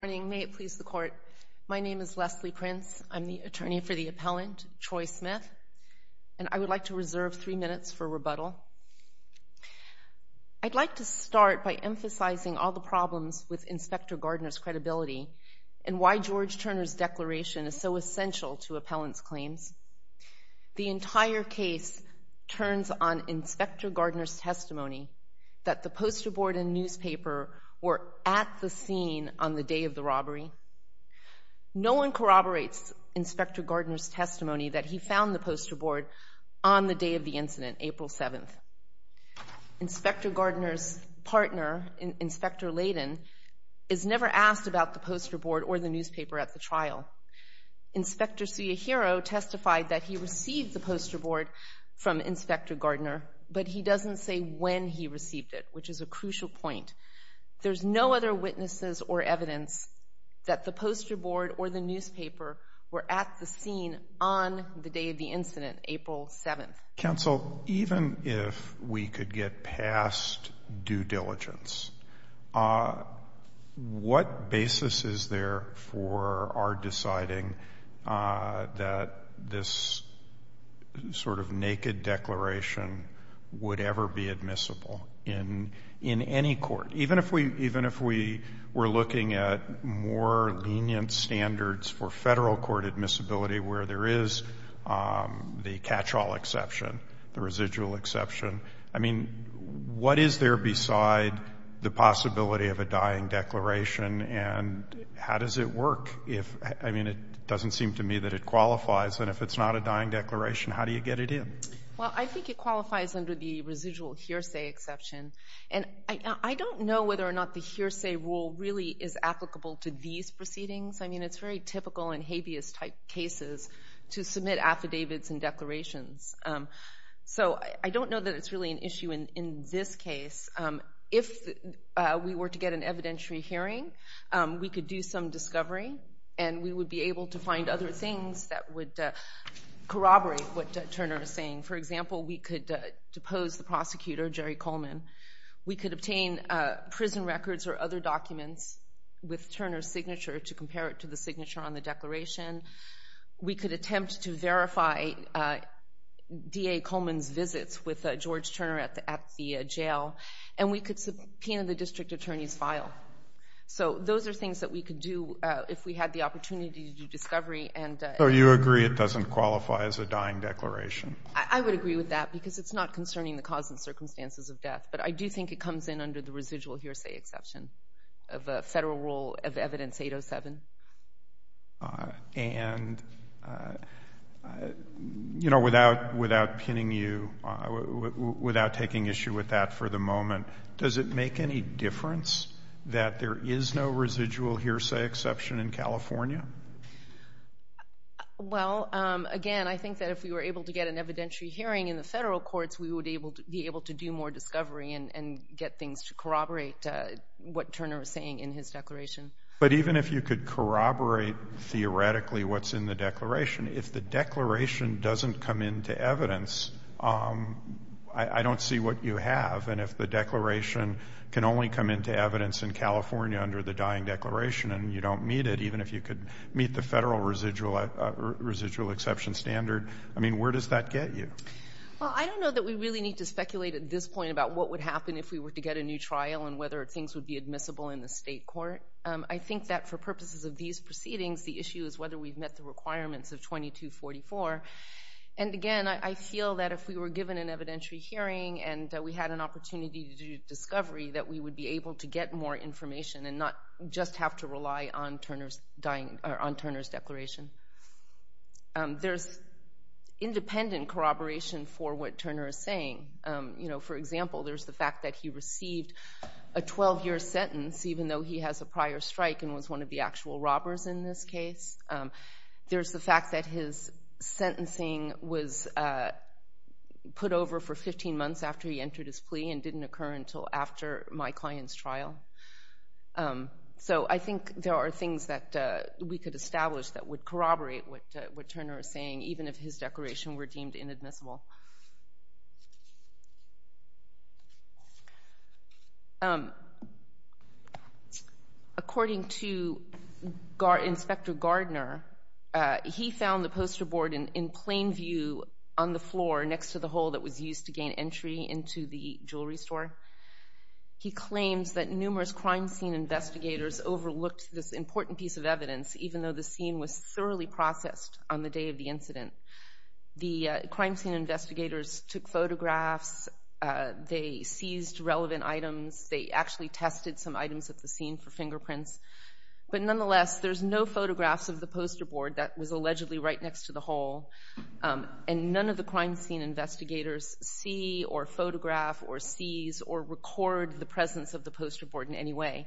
My name is Leslie Prince. I'm the attorney for the appellant, Troy Smith. And I would like to reserve three minutes for rebuttal. I'd like to start by emphasizing all the problems with Inspector Gardner's credibility and why George Turner's declaration is so essential to appellant's claims. The entire case turns on Inspector Gardner's testimony that the poster board and newspaper were at the scene on the day of the robbery. No one corroborates Inspector Gardner's testimony that he found the poster board on the day of the incident, April 7th. Inspector Gardner's partner, Inspector Layden, is never asked about the poster board or the newspaper at the trial. Inspector Ciahiro testified that he received the poster board from Inspector Gardner, but he doesn't say when he received it, which is a crucial point. There's no other witnesses or evidence that the poster board or the newspaper were at the scene on the day of the incident, April 7th. Counsel, even if we could get past due diligence, what basis is there for our deciding that this sort of naked declaration would ever be admissible in any court? Even if we were looking at more lenient standards for Federal court admissibility where there is the catch-all exception, the residual exception, I mean, what is there beside the possibility of a dying declaration, and how does it work? I mean, it doesn't seem to me that it qualifies. And if it's not a dying declaration, how do you get it in? Well, I think it qualifies under the residual hearsay exception. And I don't know whether or not the hearsay rule really is applicable to these proceedings. I mean, it's very typical in habeas-type cases to submit affidavits and declarations. So I don't know that it's really an issue in this case. If we were to get an evidentiary hearing, we could do some discovery, and we would be able to find other things that would corroborate what Turner is saying. For example, we could depose the prosecutor, Jerry Coleman. We could obtain prison records or other documents with Turner's signature to compare it to the signature on the declaration. We could attempt to verify D.A. Coleman's visits with George Turner at the jail. And we could subpoena the district attorney's file. So those are things that we could do if we had the opportunity to do discovery. So you agree it doesn't qualify as a dying declaration? I would agree with that because it's not concerning the cause and circumstances of death. But I do think it comes in under the residual hearsay exception of a federal rule of Evidence 807. And, you know, without pinning you, without taking issue with that for the moment, does it make any difference that there is no residual hearsay exception in California? Well, again, I think that if we were able to get an evidentiary hearing in the federal courts, we would be able to do more discovery and get things to corroborate what Turner is saying in his declaration. But even if you could corroborate theoretically what's in the declaration, if the declaration doesn't come into Evidence, I don't see what you have. And if the declaration can only come into Evidence in California under the dying declaration and you don't meet it, even if you could meet the federal residual exception standard, I mean, where does that get you? Well, I don't know that we really need to speculate at this point about what would happen if we were to get a new trial and whether things would be admissible in the state court. I think that for purposes of these proceedings, the issue is whether we've met the requirements of 2244. And, again, I feel that if we were given an evidentiary hearing and we had an opportunity to do discovery, that we would be able to get more information and not just have to rely on Turner's declaration. There's independent corroboration for what Turner is saying. For example, there's the fact that he received a 12-year sentence, even though he has a prior strike and was one of the actual robbers in this case. There's the fact that his sentencing was put over for 15 months after he entered his plea So I think there are things that we could establish that would corroborate what Turner is saying, even if his declaration were deemed inadmissible. According to Inspector Gardner, he found the poster board in plain view on the floor next to the hole that was used to gain entry into the jewelry store. He claims that numerous crime scene investigators overlooked this important piece of evidence, even though the scene was thoroughly processed on the day of the incident. The crime scene investigators took photographs. They seized relevant items. They actually tested some items at the scene for fingerprints. But, nonetheless, there's no photographs of the poster board that was allegedly right next to the hole. And none of the crime scene investigators see or photograph or seize or record the presence of the poster board in any way.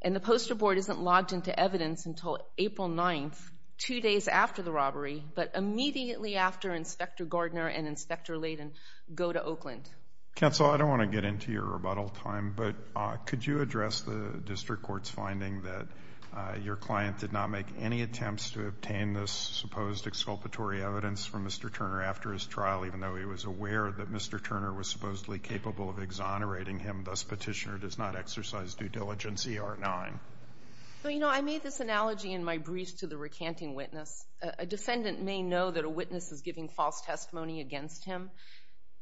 And the poster board isn't logged into evidence until April 9th, two days after the robbery, but immediately after Inspector Gardner and Inspector Layden go to Oakland. Counsel, I don't want to get into your rebuttal time, but could you address the district court's finding that your client did not make any attempts to obtain this supposed exculpatory evidence from Mr. Turner after his trial, even though he was aware that Mr. Turner was supposedly capable of exonerating him, thus Petitioner does not exercise due diligence ER 9? Well, you know, I made this analogy in my brief to the recanting witness. A defendant may know that a witness is giving false testimony against him,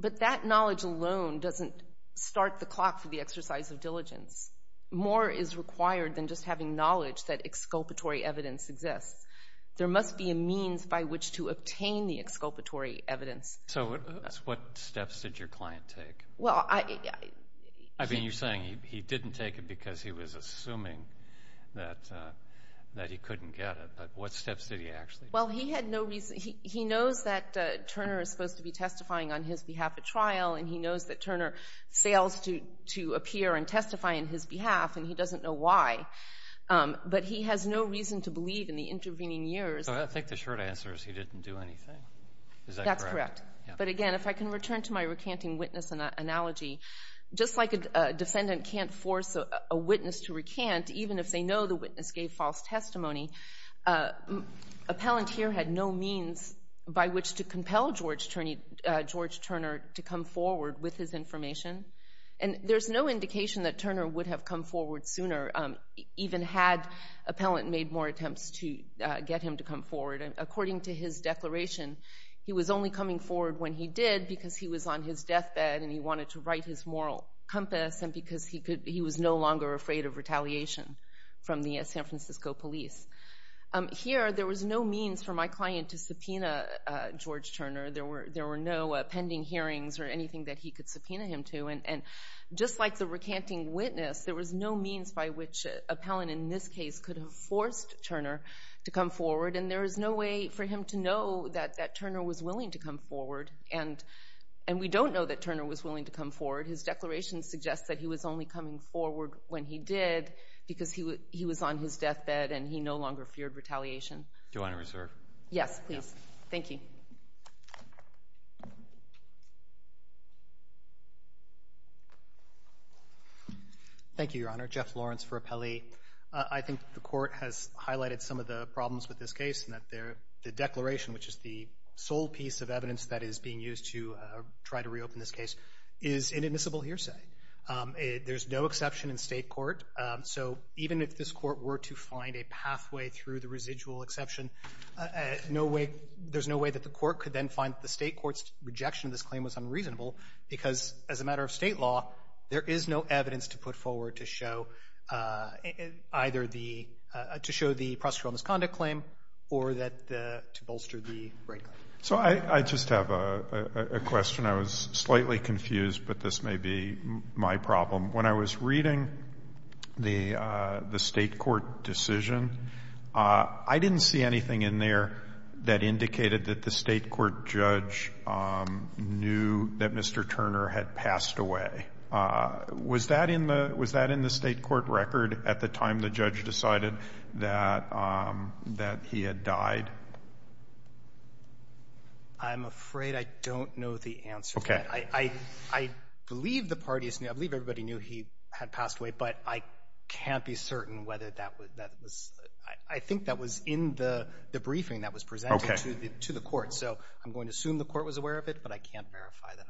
but that knowledge alone doesn't start the clock for the exercise of diligence. More is required than just having knowledge that exculpatory evidence exists. There must be a means by which to obtain the exculpatory evidence. So what steps did your client take? I mean, you're saying he didn't take it because he was assuming that he couldn't get it, but what steps did he actually take? Well, he had no reason. He knows that Turner is supposed to be testifying on his behalf at trial, and he knows that Turner fails to appear and testify on his behalf, and he doesn't know why. But he has no reason to believe in the intervening years. So I think the short answer is he didn't do anything. Is that correct? That's correct. But, again, if I can return to my recanting witness analogy, just like a defendant can't force a witness to recant, even if they know the witness gave false testimony, appellant here had no means by which to compel George Turner to come forward with his information. And there's no indication that Turner would have come forward sooner, even had appellant made more attempts to get him to come forward. According to his declaration, he was only coming forward when he did because he was on his deathbed and he wanted to right his moral compass and because he was no longer afraid of retaliation from the San Francisco police. Here, there was no means for my client to subpoena George Turner. There were no pending hearings or anything that he could subpoena him to. And just like the recanting witness, there was no means by which appellant in this case could have forced Turner to come forward, and there was no way for him to know that Turner was willing to come forward. And we don't know that Turner was willing to come forward. His declaration suggests that he was only coming forward when he did because he was on his deathbed and he no longer feared retaliation. Do you want to reserve? Yes, please. Thank you. Thank you, Your Honor. Jeff Lawrence for Appellee. I think the Court has highlighted some of the problems with this case and that the declaration, which is the sole piece of evidence that is being used to try to reopen this case, is inadmissible hearsay. There's no exception in State court. So even if this Court were to find a pathway through the residual exception, there's no way that the Court could then find the State court's rejection of this claim was unreasonable because as a matter of State law, there is no evidence to put forward to show either the — to show the procedural misconduct claim or to bolster the rape claim. So I just have a question. I was slightly confused, but this may be my problem. When I was reading the State court decision, I didn't see anything in there that indicated that the State court judge knew that Mr. Turner had passed away. Was that in the State court record at the time the judge decided that he had died? I'm afraid I don't know the answer to that. Okay. I believe the parties knew. I believe everybody knew he had passed away, but I can't be certain whether that was — I think that was in the briefing that was presented to the Court. Okay. So I'm going to assume the Court was aware of it, but I can't verify that, unfortunately.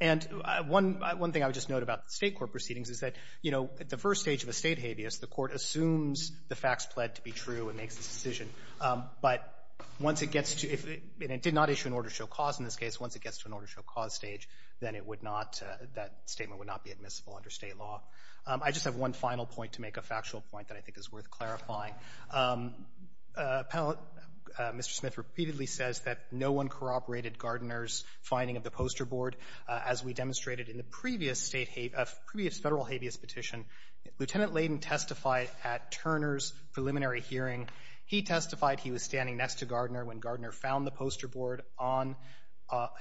And one thing I would just note about State court proceedings is that, you know, at the first stage of a State habeas, the Court assumes the facts pled to be true and makes its decision. But once it gets to — and it did not issue an order to show cause in this case. Once it gets to an order to show cause stage, then it would not — that statement would not be admissible under State law. I just have one final point to make, a factual point that I think is worth clarifying. Mr. Smith repeatedly says that no one corroborated Gardner's finding of the poster board. As we demonstrated in the previous State — previous Federal habeas petition, Lieutenant Layden testified at Turner's preliminary hearing. He testified he was standing next to Gardner when Gardner found the poster board on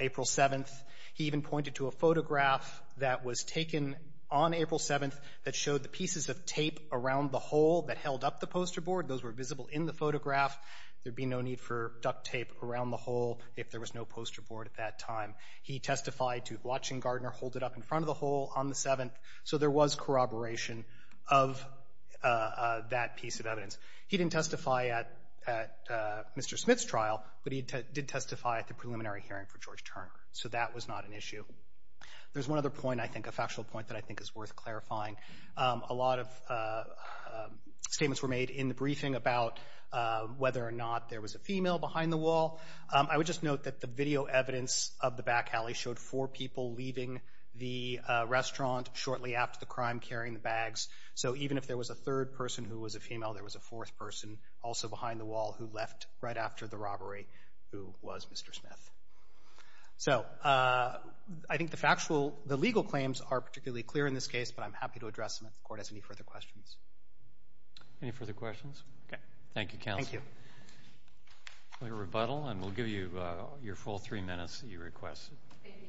April 7th. He even pointed to a photograph that was taken on April 7th that showed the pieces of tape around the hole that held up the poster board. Those were visible in the photograph. There'd be no need for duct tape around the hole if there was no poster board at that time. He testified to watching Gardner hold it up in front of the hole on the 7th. So there was corroboration of that piece of evidence. He didn't testify at Mr. Smith's trial, but he did testify at the preliminary hearing for George Turner. So that was not an issue. There's one other point, I think, a factual point that I think is worth clarifying. A lot of statements were made in the briefing about whether or not there was a female behind the wall. I would just note that the video evidence of the back alley showed four people leaving the restaurant shortly after the crime, carrying the bags. So even if there was a third person who was a female, there was a fourth person also behind the wall who left right after the robbery who was Mr. Smith. So I think the legal claims are particularly clear in this case, but I'm happy to address them if the Court has any further questions. Any further questions? Okay. Thank you, counsel. Thank you. We'll rebuttal, and we'll give you your full three minutes that you requested. Thank you.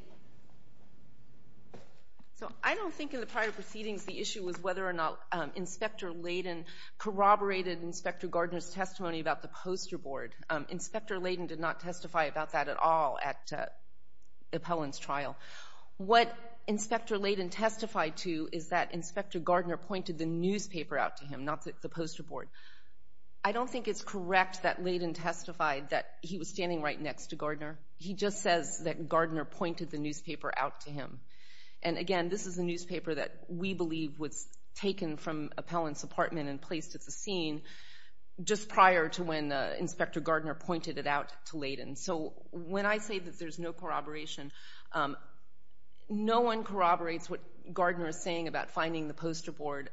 So I don't think in the prior proceedings the issue was whether or not Inspector Layden corroborated Inspector Gardner's testimony about the poster board. Inspector Layden did not testify about that at all at the appellant's trial. What Inspector Layden testified to is that Inspector Gardner pointed the newspaper out to him, not the poster board. I don't think it's correct that Layden testified that he was standing right next to Gardner. He just says that Gardner pointed the newspaper out to him. And again, this is a newspaper that we believe was taken from appellant's apartment and placed at the scene just prior to when Inspector Gardner pointed it out to Layden. So when I say that there's no corroboration, no one corroborates what Gardner is saying about finding the poster board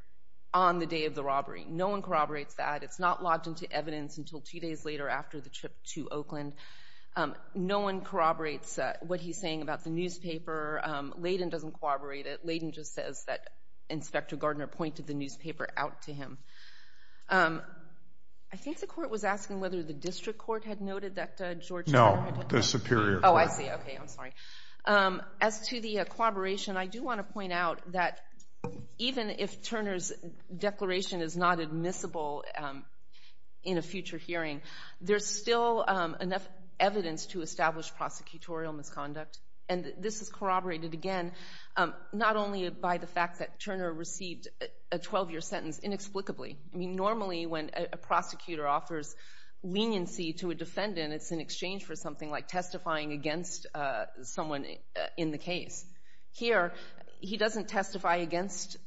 on the day of the robbery. No one corroborates that. It's not logged into evidence until two days later after the trip to Oakland. No one corroborates what he's saying about the newspaper. Layden doesn't corroborate it. Layden just says that Inspector Gardner pointed the newspaper out to him. I think the court was asking whether the district court had noted that George Turner had No, the superior court. Oh, I see. Okay, I'm sorry. As to the corroboration, I do want to point out that even if Turner's declaration is not admissible in a future hearing, there's still enough evidence to establish prosecutorial misconduct. And this is corroborated, again, not only by the fact that Turner received a 12-year sentence inexplicably. I mean, normally when a prosecutor offers leniency to a defendant, it's in exchange for something like testifying against someone in the case. Here, he doesn't testify against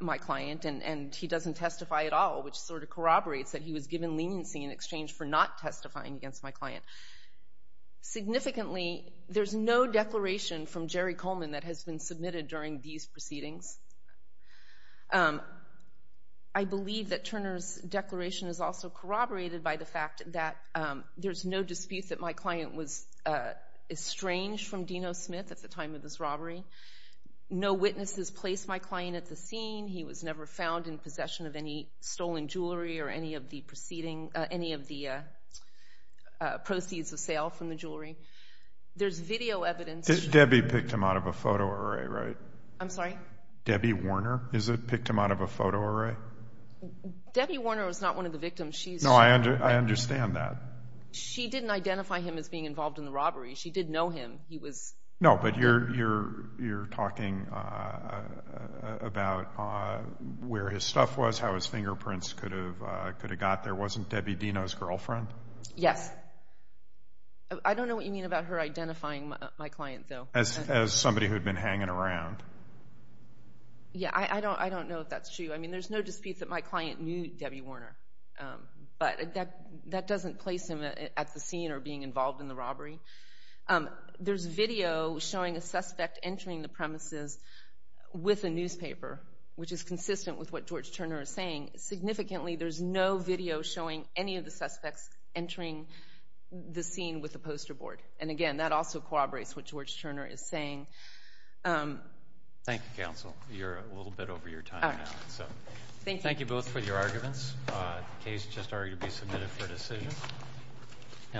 my client, and he doesn't testify at all, which sort of corroborates that he was given leniency in exchange for not testifying against my client. Significantly, there's no declaration from Jerry Coleman that has been submitted during these proceedings. I believe that Turner's declaration is also corroborated by the fact that there's no dispute that my client was estranged from Dino Smith at the time of this robbery. No witnesses placed my client at the scene. He was never found in possession of any stolen jewelry or any of the proceeds of sale from the jewelry. There's video evidence. Debbie picked him out of a photo array, right? I'm sorry? Debbie Warner picked him out of a photo array? Debbie Warner was not one of the victims. No, I understand that. She didn't identify him as being involved in the robbery. She did know him. No, but you're talking about where his stuff was, how his fingerprints could have got there. Wasn't Debbie Dino's girlfriend? Yes. I don't know what you mean about her identifying my client, though. As somebody who had been hanging around. Yeah, I don't know if that's true. I mean, there's no dispute that my client knew Debbie Warner, but that doesn't place him at the scene or being involved in the robbery. There's video showing a suspect entering the premises with a newspaper, which is consistent with what George Turner is saying. Significantly, there's no video showing any of the suspects entering the scene with a poster board. And, again, that also corroborates what George Turner is saying. Thank you, Counsel. You're a little bit over your time now. Thank you. Thank you both for your arguments. The case just argued to be submitted for decision.